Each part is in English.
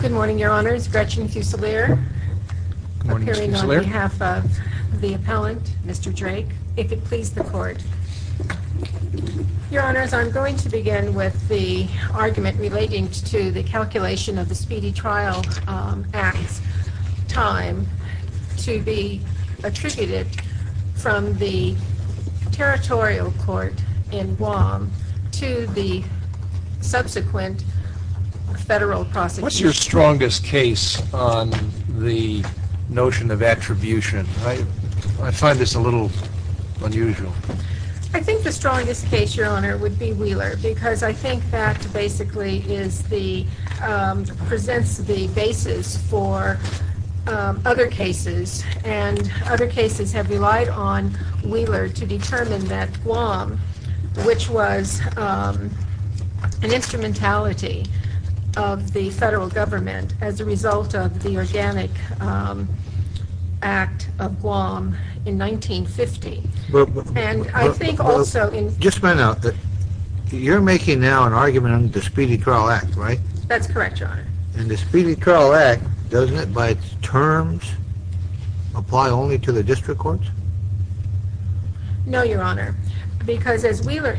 Good morning, your honors. Gretchen Fusilier, appearing on behalf of the appellant, Mr. Drake, if it please the court. Your honors, I'm going to begin with the argument relating to the calculation of the Speedy Trial Act time to be attributed from the territorial court in Guam to the subsequent federal prosecution. What's your strongest case on the notion of attribution? I find this a little unusual. I think the strongest case, your honor, would be Wheeler because I think that basically presents the basis for other cases and other cases have relied on Wheeler to determine that Guam, which was an instrumentality of the federal government as a result of the Organic Act of Guam in 1950. And I think also... Just a minute. You're making now an argument on the Speedy Trial Act, right? That's correct, your honor. And the Speedy Trial Act, doesn't it by its terms apply only to the district courts? No, your honor. What does it help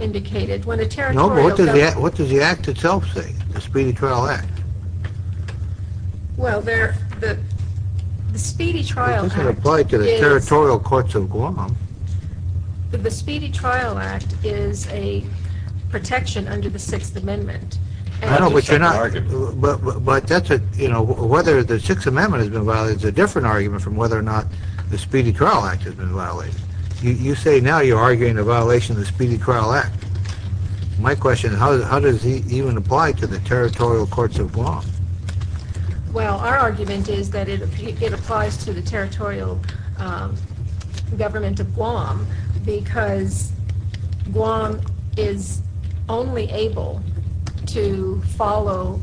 say, the Speedy Trial Act? Well, the Speedy Trial Act... It doesn't apply to the territorial courts of Guam. The Speedy Trial Act is a protection under the Sixth Amendment. I know, but you're not... But that's a, you know, whether the Sixth Amendment has been violated is a different argument from whether or not the Speedy Trial Act has been violated. You say now you're saying it doesn't even apply to the territorial courts of Guam. Well, our argument is that it applies to the territorial government of Guam because Guam is only able to follow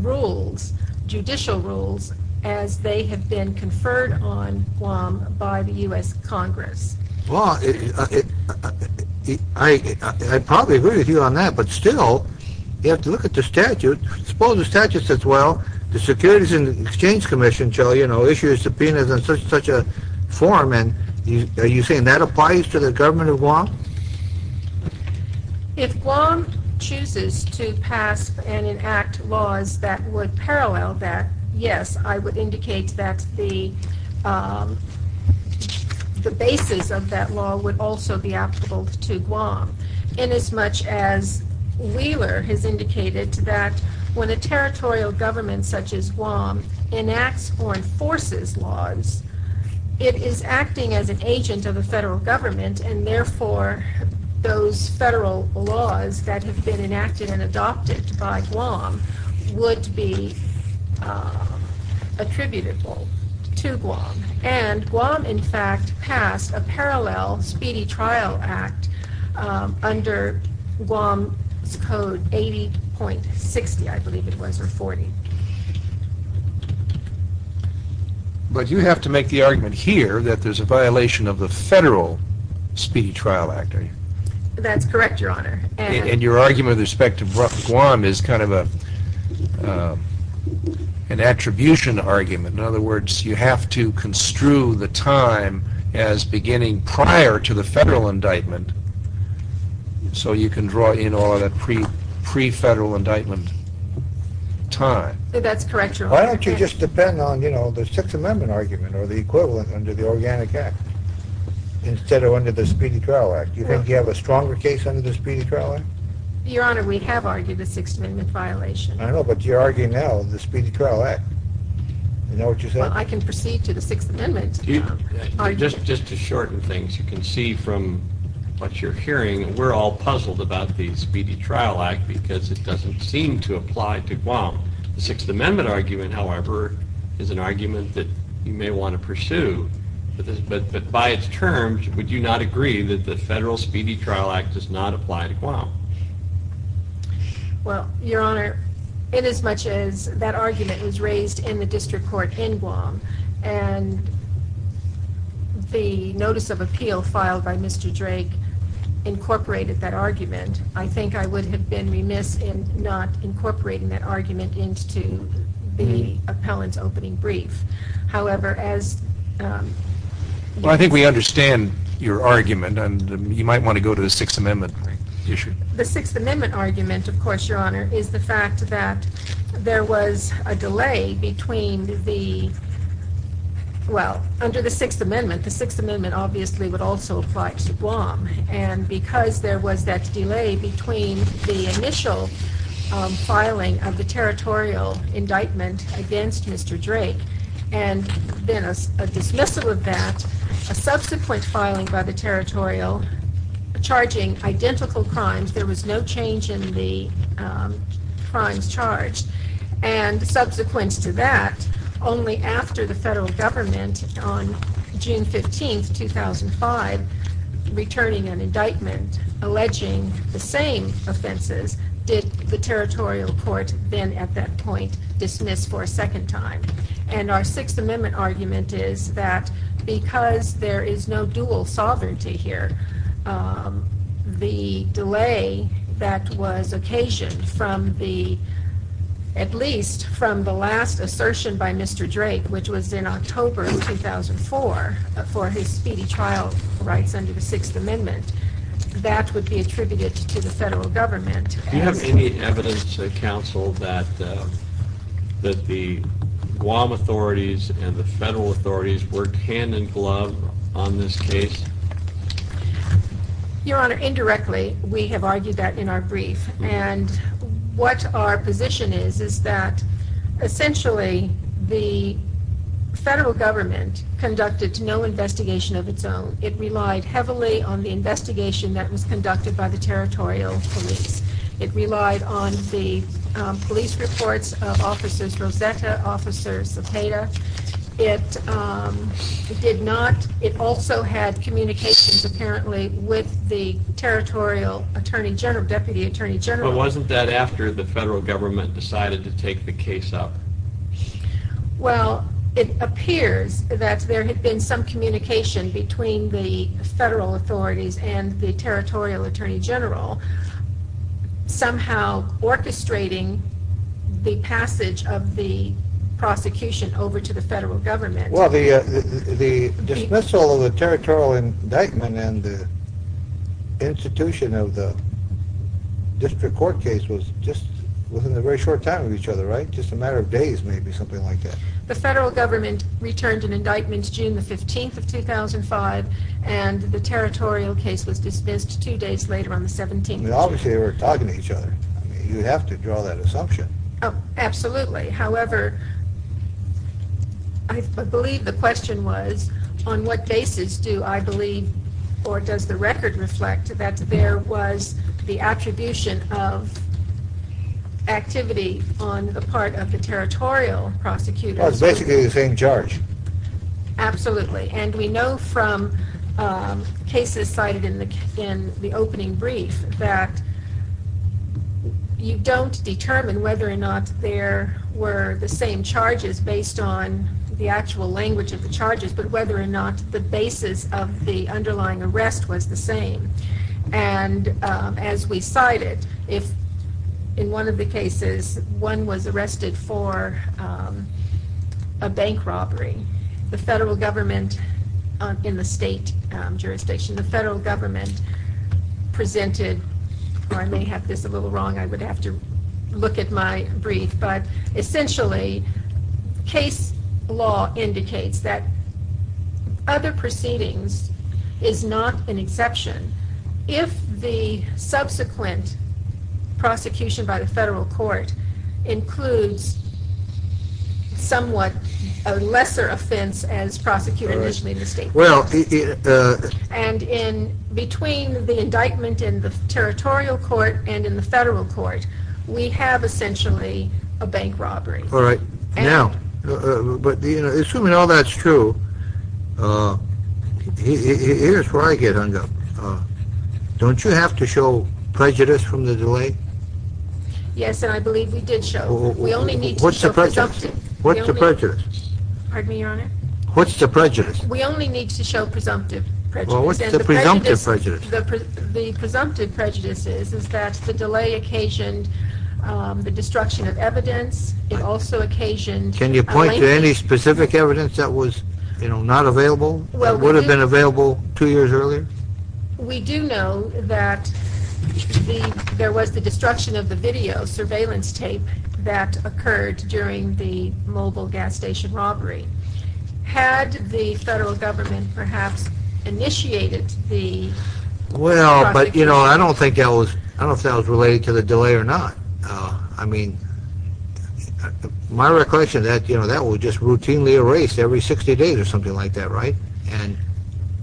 rules, judicial rules, as they have been conferred on Guam by the U.S. Congress. Well, I probably agree with you on that, but still, you have to look at the statute. Suppose the statute says, well, the Securities and Exchange Commission shall, you know, issue a subpoena in such a form, and are you saying that applies to the government of Guam? If Guam chooses to pass and enact laws that would parallel that, yes, I would indicate that the basis of that law would also be applicable to Guam, inasmuch as Wheeler has indicated that when a territorial government such as Guam enacts or enforces laws, it is acting as an agent of the federal government, and therefore those federal laws that have been enacted and adopted by Guam would be attributable to Guam, and Guam, in fact, passed a parallel Speedy Trial Act under Guam's Code 80.60, I believe it was, or 40. But you have to make the argument here that there's a violation of the federal Speedy Trial Act, are you? That's correct, Your Honor. And your argument with respect to Guam is kind of an attribution argument, in other words, you have to construe the time as beginning prior to the federal indictment, so you can draw in all that pre-federal indictment time. That's correct, Your Honor. Why don't you just depend on, you know, the Sixth Amendment argument or the equivalent under the Organic Act, instead of under the Speedy Trial Act? Do you think you have a stronger case under the Speedy Trial Act? Your Honor, we have argued a Sixth Amendment violation. I know, but you're arguing now the Speedy Trial Act. Well, I can proceed to the Sixth Amendment. Just to shorten things, you can see from what you're hearing, we're all puzzled about the Speedy Trial Act because it doesn't seem to apply to Guam. The Sixth Amendment argument, however, is an argument that you may want to pursue, but by its terms, would you not agree that the federal Speedy Trial Act does not apply to Guam? Well, Your Honor, inasmuch as that argument was raised in the district court in Guam and the notice of appeal filed by Mr. Drake incorporated that argument, I think I would have been remiss in not incorporating that argument into the appellant's opening brief. However, as... Well, I think we understand your argument, and you might want to go to the Sixth Amendment issue. The Sixth Amendment argument, of course, Your Honor, is the fact that there was a delay between the... Well, under the Sixth Amendment, the Sixth Amendment obviously would also apply to Guam, and because there was that delay between the initial filing of the territorial indictment against Mr. Drake and then a dismissal of that, a subsequent filing by the territorial, charging identical crimes, there was no change in the crimes charged, and subsequent to that, only after the federal government on June 15, 2005, returning an indictment alleging the same offenses, did the territorial court then, at that point, dismiss for a because there is no dual sovereignty here. The delay that was occasioned from the, at least from the last assertion by Mr. Drake, which was in October of 2004 for his speedy trial rights under the Sixth Amendment, that would be attributed to the federal government. Do you have any evidence, counsel, that the Guam authorities and the federal authorities worked hand-in-glove on this case? Your Honor, indirectly, we have argued that in our brief, and what our position is, is that essentially the federal government conducted no investigation of its own. It relied heavily on the investigation that was conducted by the territorial police. It relied on the police reports of Officers Rosetta, Officer Cepeda. It did not, it also had communications, apparently, with the territorial Attorney General, Deputy Attorney General. But wasn't that after the federal government decided to take the case up? Well, it appears that there had been some communication between the federal authorities and the territorial authorities. The passage of the prosecution over to the federal government. Well, the dismissal of the territorial indictment and the institution of the district court case was just within a very short time of each other, right? Just a matter of days, maybe, something like that. The federal government returned an indictment June the 15th of 2005 and the territorial case was dismissed two days later on the 17th. Obviously, they were talking to each other. You have to draw that assumption. Oh, absolutely. However, I believe the question was, on what basis do I believe, or does the record reflect, that there was the attribution of activity on the part of the territorial prosecutors? Well, it's basically the same charge. Absolutely, and we know from cases cited in the opening brief that you don't determine whether or not there were the same charges based on the actual language of the charges, but whether or not the basis of the underlying arrest was the same. And as we cited, if in one of the cases one was arrested for a bank robbery, the federal government, in the state jurisdiction, the federal look at my brief, but essentially case law indicates that other proceedings is not an exception. If the subsequent prosecution by the federal court includes somewhat a lesser offense as prosecuted initially in the state, and in between the indictment in the territorial court and in the federal court, we have essentially a bank robbery. All right, now, but you know, assuming all that's true, here's where I get hung up. Don't you have to show prejudice from the delay? Yes, and I believe we did show. We only need to show presumptive. What's the prejudice? Pardon me, Your Honor? What's the prejudice? We only need to show presumptive prejudice. Well, what's the presumptive prejudice? The presumptive prejudice is that the delay occasioned the destruction of evidence. It also occasioned... Can you point to any specific evidence that was, you know, not available, that would have been available two years earlier? We do know that there was the destruction of the video surveillance tape that occurred during the Mobile Gas Station robbery. Had the federal government perhaps initiated the... Well, but you know, I don't think that was, I don't think that was related to the delay or not. I mean, my recollection is that, you know, that was just routinely erased every 60 days or something like that, right?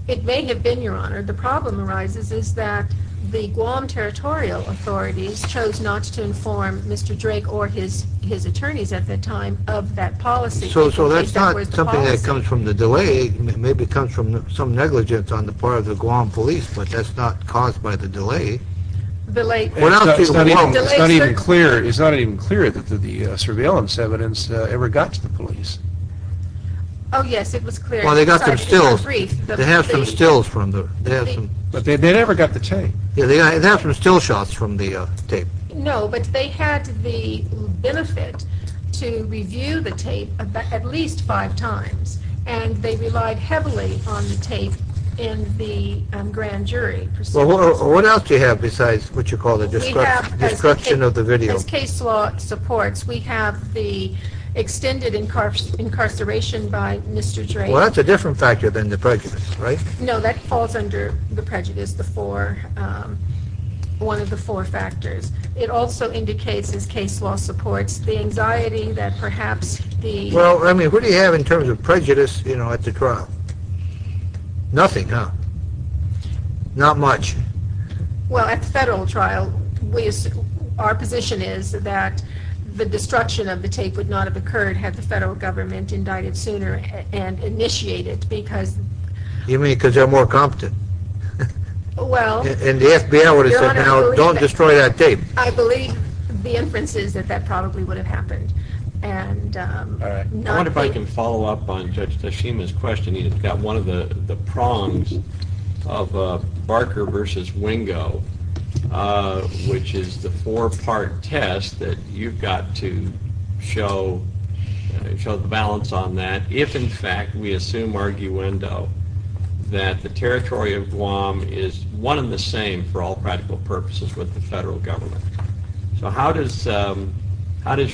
It may have been, Your Honor. The problem arises is that the Guam Territorial Authorities chose not to inform Mr. Drake or his his attorneys at the time of that policy. So that's not something that comes from the delay. Maybe it comes from some negligence on the part of the Guam police, but that's not caused by the delay. It's not even clear that the surveillance evidence ever got to the police. Oh yes, it was clear. Well, they got their stills. They have some stills from the... But they never got the tape. Yeah, they have some still shots from the tape. No, but they had the benefit to review the tape at least five times, and they relied heavily on the tape in the grand jury. Well, what else do you have besides what you call the destruction of the video? As case law supports, we have the extended incarceration by Mr. Drake. Well, that's a different factor than the prejudice, right? No, that falls under the prejudice, the four, one of the four factors. It also indicates, as case law supports, the anxiety that perhaps the... Well, I mean, what do you have in terms of Not much. Well, at the federal trial, our position is that the destruction of the tape would not have occurred had the federal government indicted sooner and initiated because... You mean because they're more competent? Well... And the FBI would have said, don't destroy that tape. I believe the inference is that that probably would have happened. I wonder if I can follow up on Judge Tashima's question. He's got one of the prongs of Barker versus Wingo, which is the four-part test that you've got to show the balance on that if, in fact, we assume arguendo that the territory of Guam is one and the same for all practical purposes with the federal government. So how does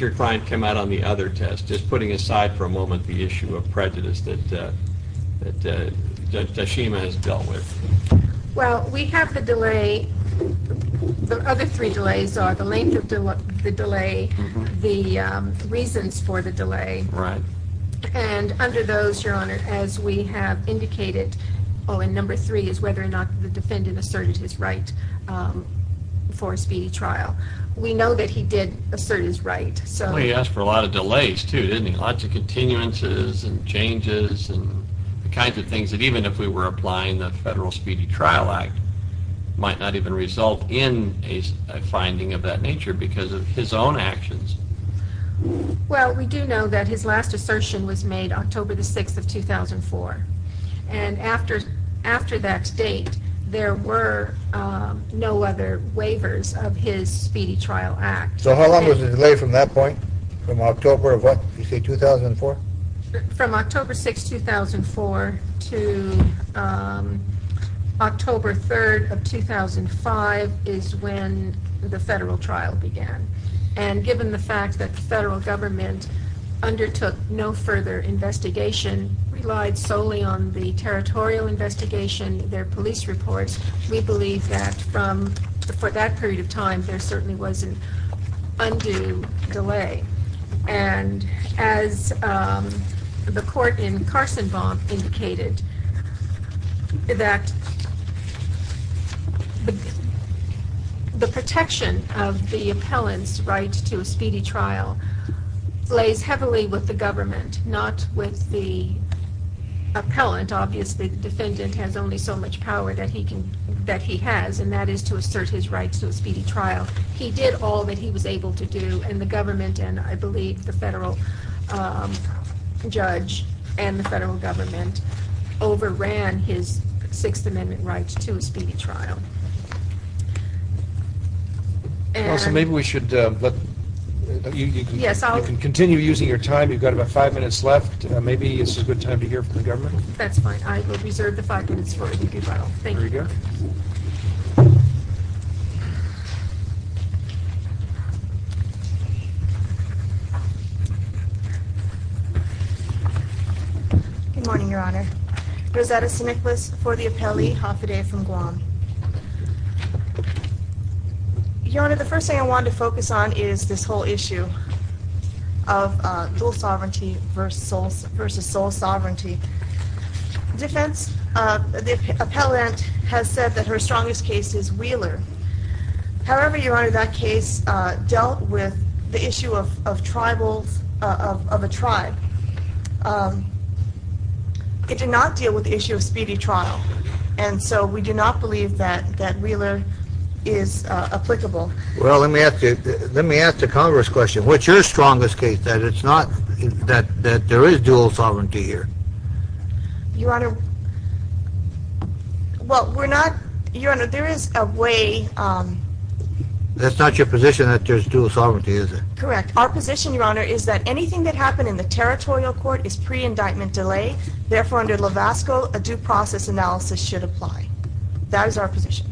your client come out on the other test? Just putting aside for a moment the issue of prejudice that Judge Tashima has dealt with. Well, we have the delay. The other three delays are the length of the delay, the reasons for the delay. Right. And under those, Your Honor, as we have indicated, oh, and number three is whether or not the defendant asserted his right for a speedy trial. We know that he did assert his right, so... Well, he asked for a lot of continuity, lots of continuances and changes and the kinds of things that even if we were applying the Federal Speedy Trial Act might not even result in a finding of that nature because of his own actions. Well, we do know that his last assertion was made October the 6th of 2004, and after that date there were no other waivers of his Speedy Trial Act. So how long was the delay from that point? From October of what, you say 2004? From October 6, 2004 to October 3rd of 2005 is when the federal trial began, and given the fact that the federal government undertook no further investigation, relied solely on the territorial investigation, their police reports, we believe that from that period of time there certainly was an undue delay, and as the court in Carsonbaum indicated, that the protection of the appellant's right to a speedy trial lays heavily with the government, not with the appellant. Obviously, the defendant has only so much power that he can, that he has, and that is to assert his right to a speedy trial. He did all that he was able to do, and the government, and I believe the federal judge and the federal government, overran his Sixth Amendment rights to a speedy trial. Also, maybe we should, you can continue using your time, you've got about five minutes left, maybe it's a good time to hear from the government. That's fine, I will reserve the five minutes for a speedy trial. Thank you. Good morning, Your Honor. Rosetta St. Nicholas for the appellee, Haffaday from Guam. Your Honor, the first thing I wanted to focus on is this whole issue of dual sovereignty versus sole sovereignty. Defense, the appellant has said that her case dealt with the issue of tribals, of a tribe. It did not deal with the issue of speedy trial, and so we do not believe that Wheeler is applicable. Well, let me ask you, let me ask the Congress question. What's your strongest case that it's not that there is dual sovereignty here? Your Honor, well, we're not, Your Honor, there is a way... That's not your position that there's dual sovereignty, is it? Correct. Our position, Your Honor, is that anything that happened in the territorial court is pre-indictment delay. Therefore, under Lavasco, a due process analysis should apply. That is our position.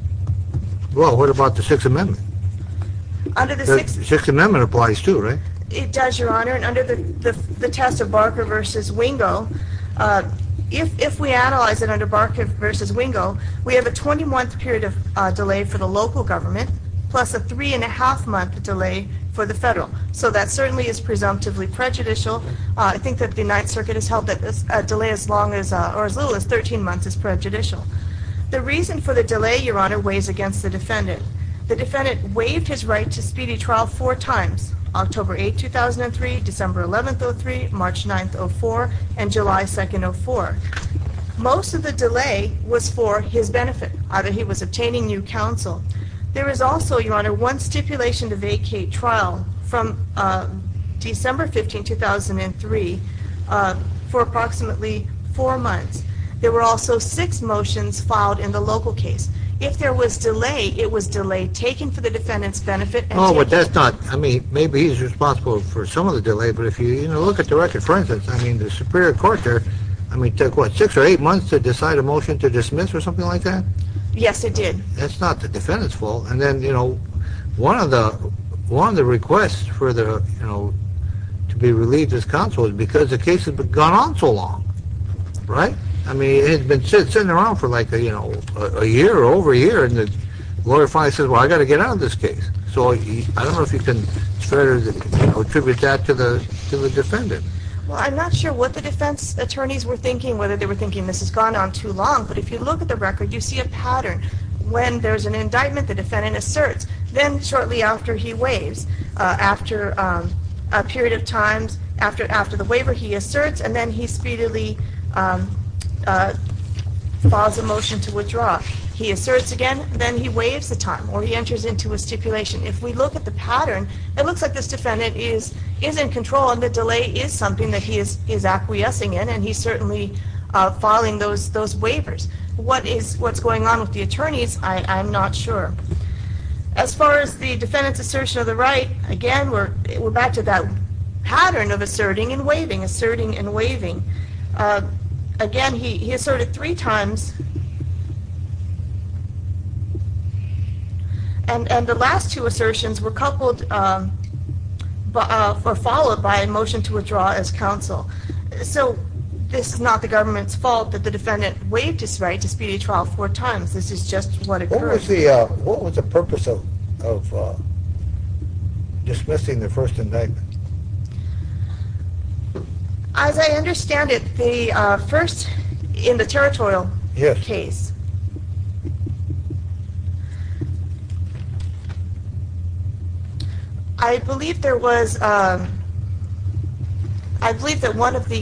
Well, what about the Sixth Amendment? The Sixth Amendment applies too, right? It does, Your Honor, and under the test of Barker versus Wingo, if we analyze it under Barker versus Wingo, we have a 21th period of delay for the local government, plus a three and a half month delay for the federal. So that certainly is presumptively prejudicial. I think that the Ninth Circuit has held that this delay as long as, or as little as, 13 months is prejudicial. The reason for the delay, Your Honor, weighs against the defendant. The defendant waived his right to speedy trial four times, October 8, 2003, December 11th, 03, March 9th, 04, and July 2nd, 04. Most of the delay was for his benefit, either he was obtaining new counsel. There is also, Your Honor, one stipulation to vacate trial from December 15, 2003 for approximately four months. There were also six motions filed in the local case. If there was delay, it was delay taken for the defendant's benefit. Oh, but that's not, I mean, maybe he's responsible for some of the delay, but if you, you know, look at the record, for instance, I mean, the Superior Court there, I mean, took, what, six or eight months or something like that? Yes, it did. That's not the defendant's fault, and then, you know, one of the requests for the, you know, to be relieved as counsel is because the case has gone on so long, right? I mean, it's been sitting around for like, you know, a year or over a year, and the lawyer finally says, well, I got to get out of this case. So, I don't know if you can attribute that to the defendant. Well, I'm not sure what the defense attorneys were thinking, whether they were thinking this has gone on too long, but if you look at the record, you see a pattern. When there's an indictment, the defendant asserts. Then, shortly after he waives, after a period of times, after the waiver, he asserts, and then he speedily files a motion to withdraw. He asserts again, then he waives the time, or he enters into a stipulation. If we look at the pattern, it looks like this defendant is in control, and the delay is something that he is acquiescing in, and he's certainly filing those waivers. What's going on with the attorneys, I'm not sure. As far as the defendant's assertion of the right, again, we're back to that pattern of asserting and waiving, asserting and waiving. Again, he asserted three times, and the last two So, this is not the government's fault that the defendant waived his right to speedily trial four times. This is just what occurred. What was the purpose of dismissing the first indictment? As I understand it, the first, in the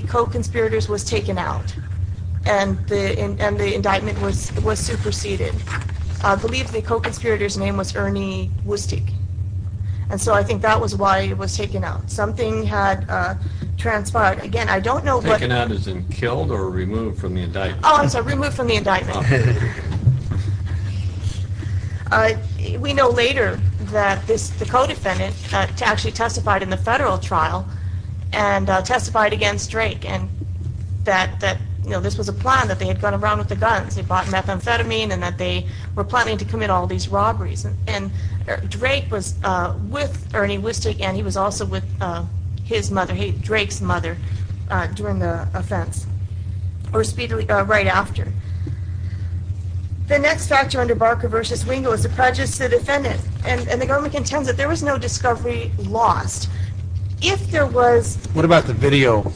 co-conspirators, was taken out, and the indictment was superseded. I believe the co-conspirators name was Ernie Wustik, and so I think that was why it was taken out. Something had transpired. Again, I don't know what... Taken out as in killed, or removed from the indictment? Oh, I'm sorry, removed from the indictment. We know later that the co-defendant actually testified in the federal trial, and testified against Drake, and that, you know, this was a plan, that they had gone around with the guns. They bought methamphetamine, and that they were planning to commit all these robberies, and Drake was with Ernie Wustik, and he was also with his mother, Drake's mother, during the offense, or speedily, right after. The next factor under Barker v. Wingo is the prejudice to the defendant, and the government contends that there was no discovery lost. If there was... What about the video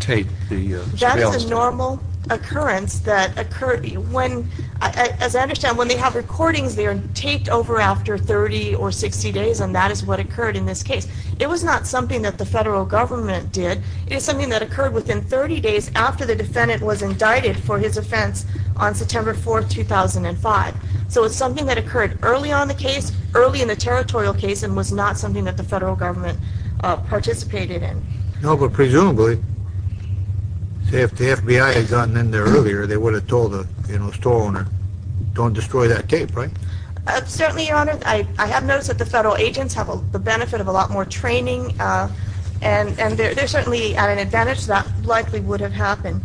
tape, the surveillance tape? That is a normal occurrence that occurred when, as I understand, when they have recordings, they are taped over after 30 or 60 days, and that is what occurred in this case. It was not something that the federal government did. It is something that occurred within 30 days after the defendant was indicted for his offense on September 4, 2005. So it's something that occurred early on the case, early in the territorial case, and was not something that the federal government participated in. No, but presumably, say if the FBI had gotten in there earlier, they would have told the store owner, don't destroy that tape, right? Certainly, Your Honor. I have noticed that the federal agents have the benefit of a lot more training, and they're certainly at an advantage that likely would have happened.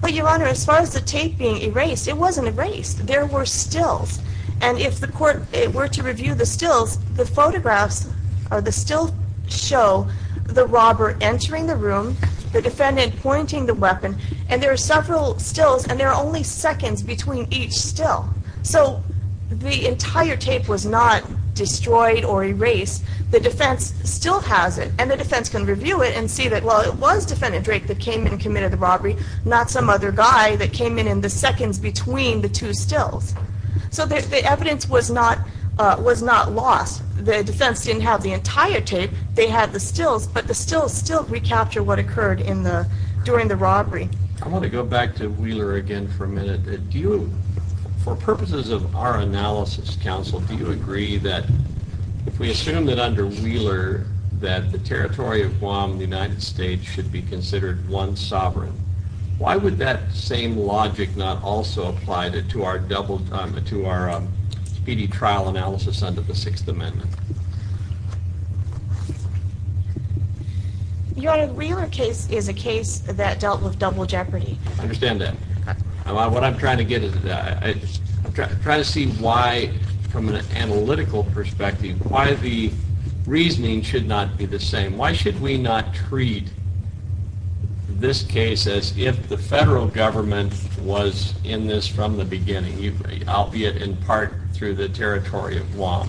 But, Your Honor, as far as the tape being erased, it wasn't erased. There were stills, and if the court were to review the stills, the photographs, or the evidence, would still show the robber entering the room, the defendant pointing the weapon, and there are several stills, and there are only seconds between each still. So the entire tape was not destroyed or erased. The defense still has it, and the defense can review it and see that, well, it was Defendant Drake that came in and committed the robbery, not some other guy that came in in the seconds between the two stills. So the evidence was not lost. The defense didn't have the entire tape. They had the stills, but the stills still recapture what occurred in the, during the robbery. I want to go back to Wheeler again for a minute. Do you, for purposes of our analysis, counsel, do you agree that if we assume that under Wheeler that the territory of Guam, the United States, should be considered one sovereign, why would that same logic not also apply to our double, to our speedy trial analysis under the Sixth Amendment? Your Honor, Wheeler case is a case that dealt with double jeopardy. I understand that. What I'm trying to get is, I'm trying to see why, from an analytical perspective, why the reasoning should not be the same. Why should we not treat this case as if the federal government was in this from the beginning, albeit in part through the territory of Guam?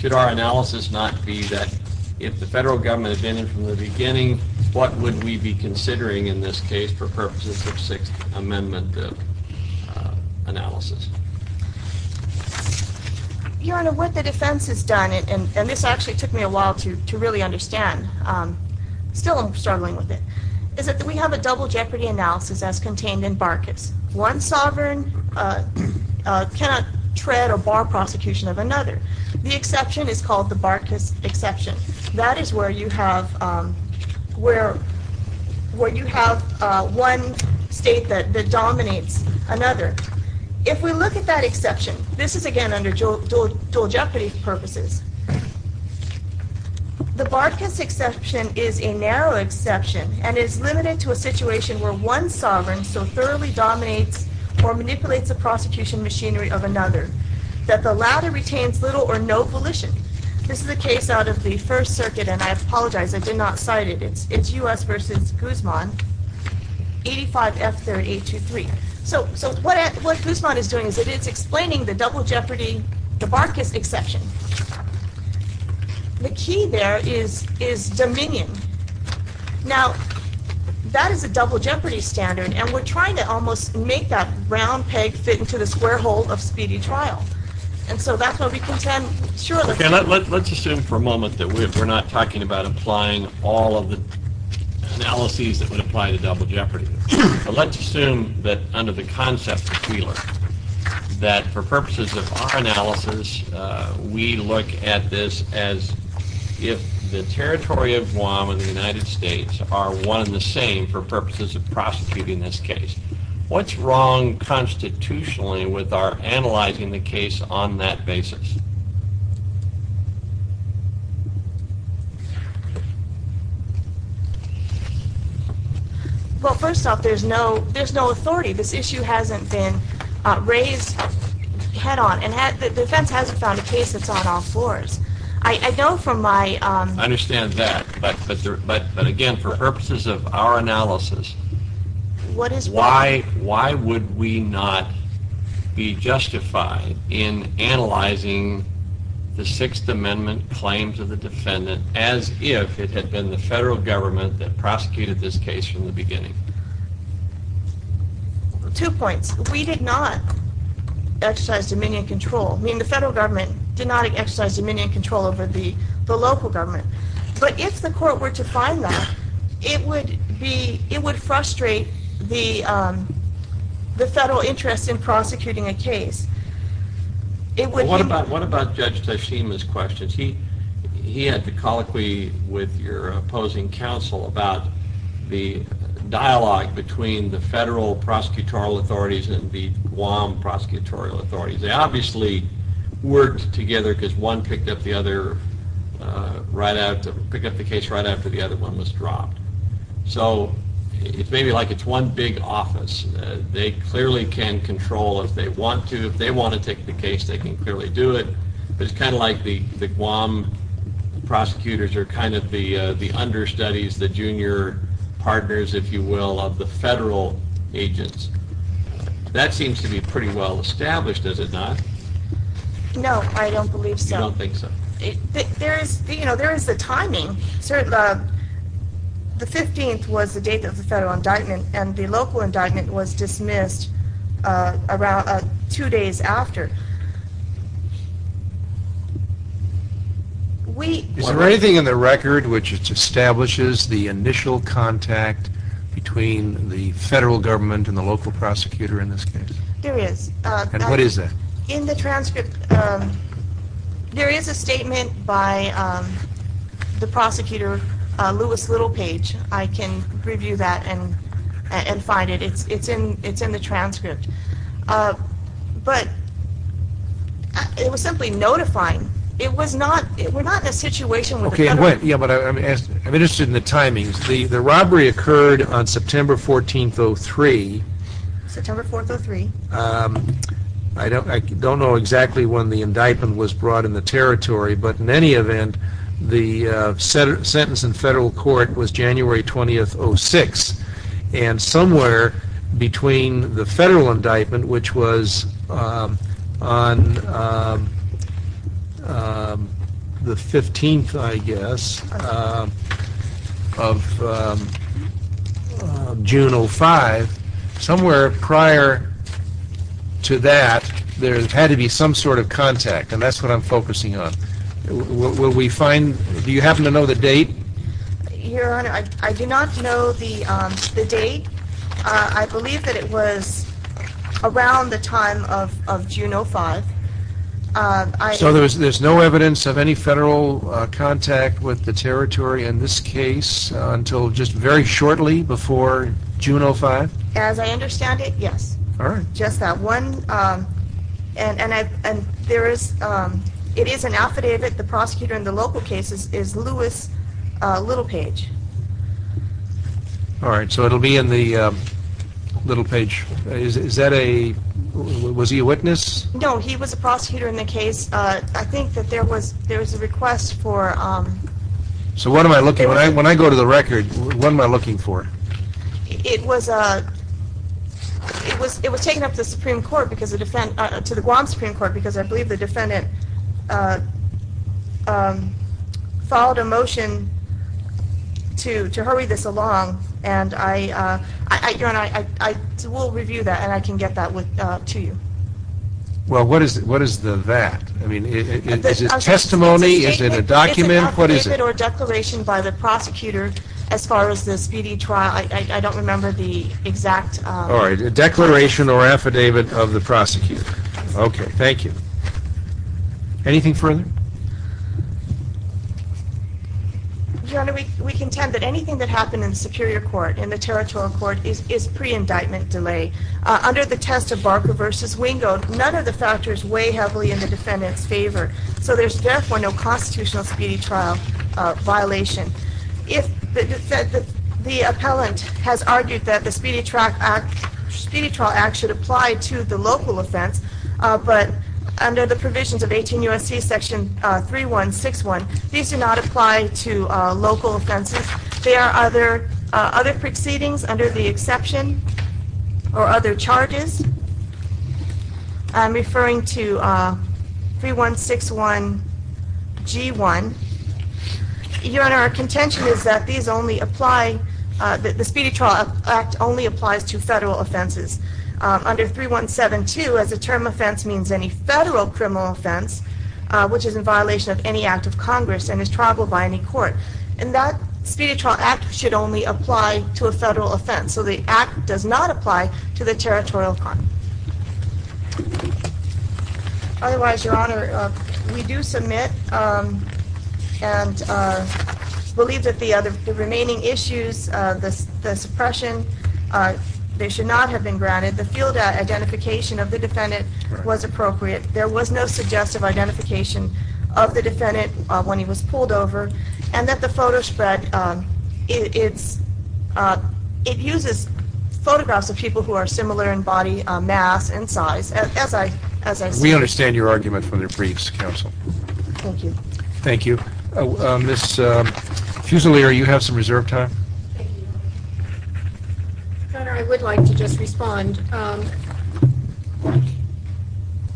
Should our analysis not be that if the federal government had been in from the beginning, what would we be considering in this case for purposes of Sixth Amendment analysis? Your Honor, what the defense has done, and this actually took me a while to understand, is to look at the double jeopardy analysis as contained in Barcus. One sovereign cannot tread or bar prosecution of another. The exception is called the Barcus exception. That is where you have one state that dominates another. If we look at that exception, this is again under dual jeopardy purposes. The Barcus exception is a narrow exception and is limited to a situation where one sovereign so thoroughly dominates or manipulates a prosecution machinery of another that the latter retains little or no volition. This is a case out of the First Circuit, and I apologize, I did not cite it. It's U.S. v. Guzman, 85 F. 3823. So what Guzman is doing is it's explaining the double jeopardy, the Barcus exception. The key there is dominion. Now, that is a double jeopardy standard, and we're trying to almost make that round peg fit into the square hole of speedy trial, and so that's what we contend surely. Let's assume for a moment that we're not talking about applying all of the analyses that would apply to double jeopardy. Let's assume that under the concept that we learned, that for purposes of our analysis, we look at this as if the territory of Guam and the United States are one and the same for purposes of prosecuting this case. What's wrong constitutionally with our analyzing the case on that basis? Well, first off, there's no authority. This issue hasn't been raised head-on, and the defense hasn't found a case that's on all fours. I know from my... I understand that, but again, for purposes of our analysis, why would we not be the Sixth Amendment claims of the defendant as if it had been the federal government that prosecuted this case from the beginning? Two points. We did not exercise dominion control. I mean, the federal government did not exercise dominion control over the local government, but if the court were to find that, it would be... it would frustrate the federal interest in prosecuting a case. What about Judge Tashima's questions? He had the colloquy with your opposing counsel about the dialogue between the federal prosecutorial authorities and the Guam prosecutorial authorities. They obviously worked together because one picked up the case right after the other one was dropped. So, it's maybe like it's one big office. They clearly can control if they want to. If they want to take the case, they can clearly do it. But it's kind of like the Guam prosecutors are kind of the understudies, the junior partners, if you will, of the federal agents. That seems to be pretty well established, does it not? No, I don't believe so. You don't think so? There is... you know, there is the timing. The 15th was the date of the dismissal. It was dismissed two days after. Is there anything in the record which establishes the initial contact between the federal government and the local prosecutor in this case? There is. And what is that? In the transcript, there is a statement by the prosecutor, Lewis Littlepage. I can review that and find it. It's in the transcript. But it was simply notifying. It was not... we're not in a situation... Okay, yeah, but I'm interested in the timings. The robbery occurred on September 14th, 03. September 4th, 03. I don't know exactly when the indictment was brought in the territory, but in any event, the sentence in federal court was January 20th, 06. And somewhere between the federal indictment, which was on the 15th, I guess, of June 05, somewhere prior to that, there had to be some sort of contact. And that's what I'm focusing on. Will we find... do you happen to know the date? Your Honor, I do not know the date. I believe that it was around the time of June 05. So there's no evidence of any federal contact with the territory in this case until just very shortly before June 05? As I understand it, yes. All right. Just that one. And there is... it is an affidavit. The prosecutor in the local case is Lewis Littlepage. All right, so it'll be in the... Littlepage. Is that a... was he a witness? No, he was a prosecutor in the case. I think that there was... there was a request for... So what am I looking... when I go to the record, what am I looking for? It was... it was taken up to the Supreme Court because the defendant... to the Guam Supreme Court because I believe the defendant followed a motion to hurry this along. And I... Your Honor, I will review that and I can get that to you. Well, what is the that? I mean, is it testimony? Is it a document? What is it? It's an affidavit or declaration by the prosecutor as far as the speedy trial. I don't remember the exact... All right, a declaration or affidavit of the prosecutor. Okay, thank you. Anything further? Your Honor, we contend that anything that happened in the Superior Court, in the Territorial Court, is pre-indictment delay. Under the test of Barker v. Wingo, none of the factors weigh heavily in the defendant's favor. So there's therefore no constitutional speedy trial violation. If the defendant... the appellant has argued that the Speedy Track Act... Speedy Trial Act should apply to the local offense, but under the provisions of 18 U.S.C. section 3161, these do not apply to local offenses. There are other... other proceedings under the exception or other charges. I'm referring to 3161 G1. Your Honor, our contention is that these only apply... the Speedy Trial Act only applies to federal offenses. Under 3172, as a term offense means any federal criminal offense, which is in violation of any Act of Congress and is triable by any court. And that Speedy Trial Act should only apply to a federal offense. So the Act does not apply to the Territorial Offense. Otherwise, Your Honor, we do submit and believe that the other... the remaining issues... the suppression... they should not have been granted. The field identification of the defendant was appropriate. There was no suggestive identification of the defendant when he was pulled over and that the photo spread... it uses photographs of people who are similar in body mass and size. As I... as I... We understand your argument for the briefs, counsel. Thank you. Thank you. Ms. Fusilier, you have some reserve time. Your Honor, I would like to just respond.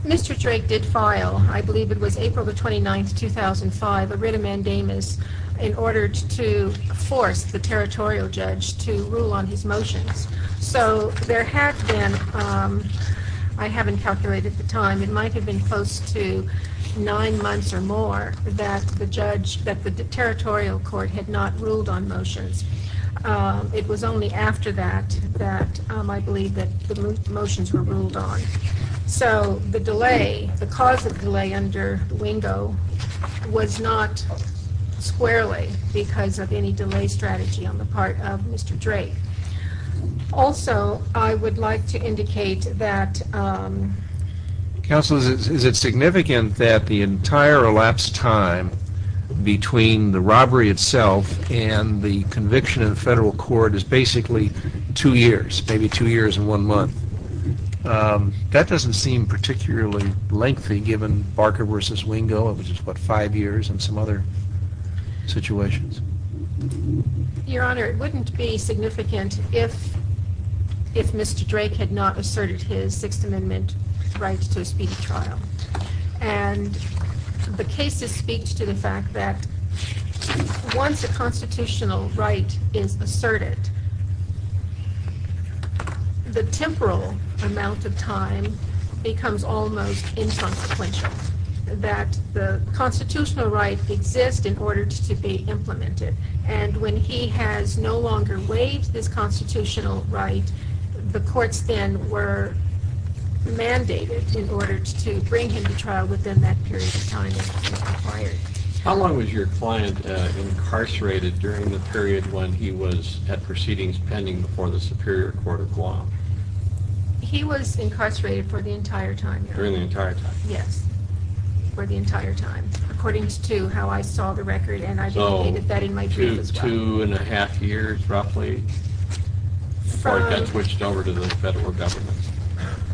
Mr. Drake did file, I believe it was April the 29th, 2005, a writ of mandamus in order to force the territorial judge to rule on his motions. So there had been... I haven't calculated the time. It might have been close to nine months or more that the judge... that the territorial court had not ruled on motions. It was only after that that I believe that the motions were ruled on. So the delay... the cause of delay under the Wingo was not squarely because of any delay strategy on the part of Mr. Drake. Also, I would like to indicate that... Counsel, is it significant that the entire elapsed time between the robbery itself and the conviction in the federal court is basically two years, maybe two years and one month? That doesn't seem particularly lengthy given Barker versus Wingo. It was just, what, five years and some other situations. Your Honor, it wouldn't be significant if Mr. Drake had not asserted his Sixth Amendment right to a speedy trial. And the case speaks to the fact that once a constitutional right is asserted, the temporal amount of time becomes almost inconsequential. That the constitutional right exists in order to be implemented. And when he has no longer waived this constitutional right, the courts then were mandated in order to bring him to trial within that period of time. How long was your client incarcerated during the period when he was at proceedings pending before the Superior Court of Guam? He was incarcerated for the entire time, Your Honor. During the entire time? Yes. For the entire time, according to how I saw the record and I indicated that in my brief as well. So, two and a half years roughly before he got switched over to the federal government?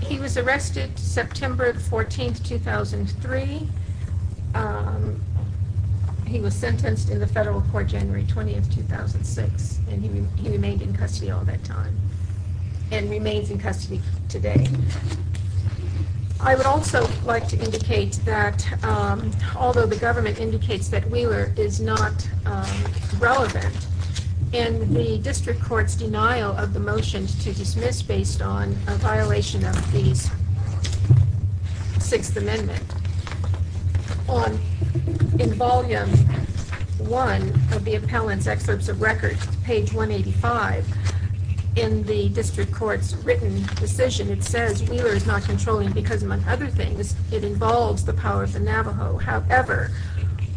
He was arrested September 14, 2003. He was sentenced in the federal court January 20, 2006 and he remained in custody all that time and remains in custody today. I would also like to indicate that, although the government indicates that Wheeler is not relevant in the district court's denial of the motion to dismiss based on a violation of the Sixth Amendment, in volume one of the appellant's excerpts of record, page 185, in the district court's written decision, it says Wheeler is not controlling because, among other things, it involves the power of the Navajo. However,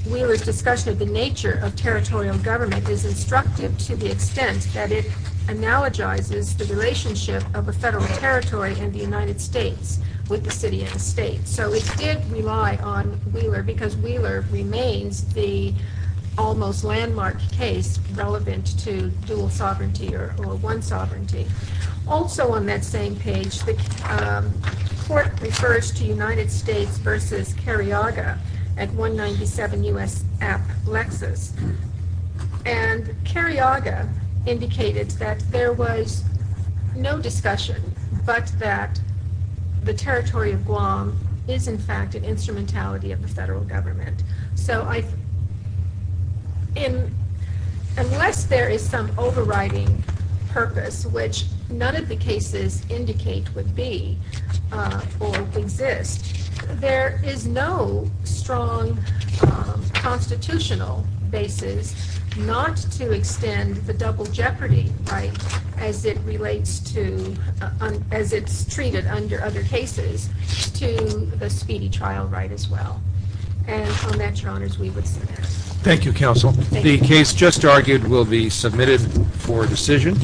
Wheeler's discussion of the nature of territorial government is instructive to the extent that it analogizes the relationship of a federal territory and the United States with the city and the state. So it did rely on Wheeler because Wheeler remains the almost landmark case relevant to dual sovereignty or one sovereignty. Also on that same page, the court refers to United States versus Carriaga at 197 U.S. App Lexis and Carriaga indicated that there was no discussion but that the territory of Guam is in fact an instrumentality of the federal government. So unless there is some overriding purpose, which none of the cases indicate would be or exist, there is no strong constitutional basis not to extend the double jeopardy right as it relates to, as it's treated under other cases, to the speedy trial right as well. And on that, your honors, we would submit. Thank you, counsel. The case just argued will be submitted for decision.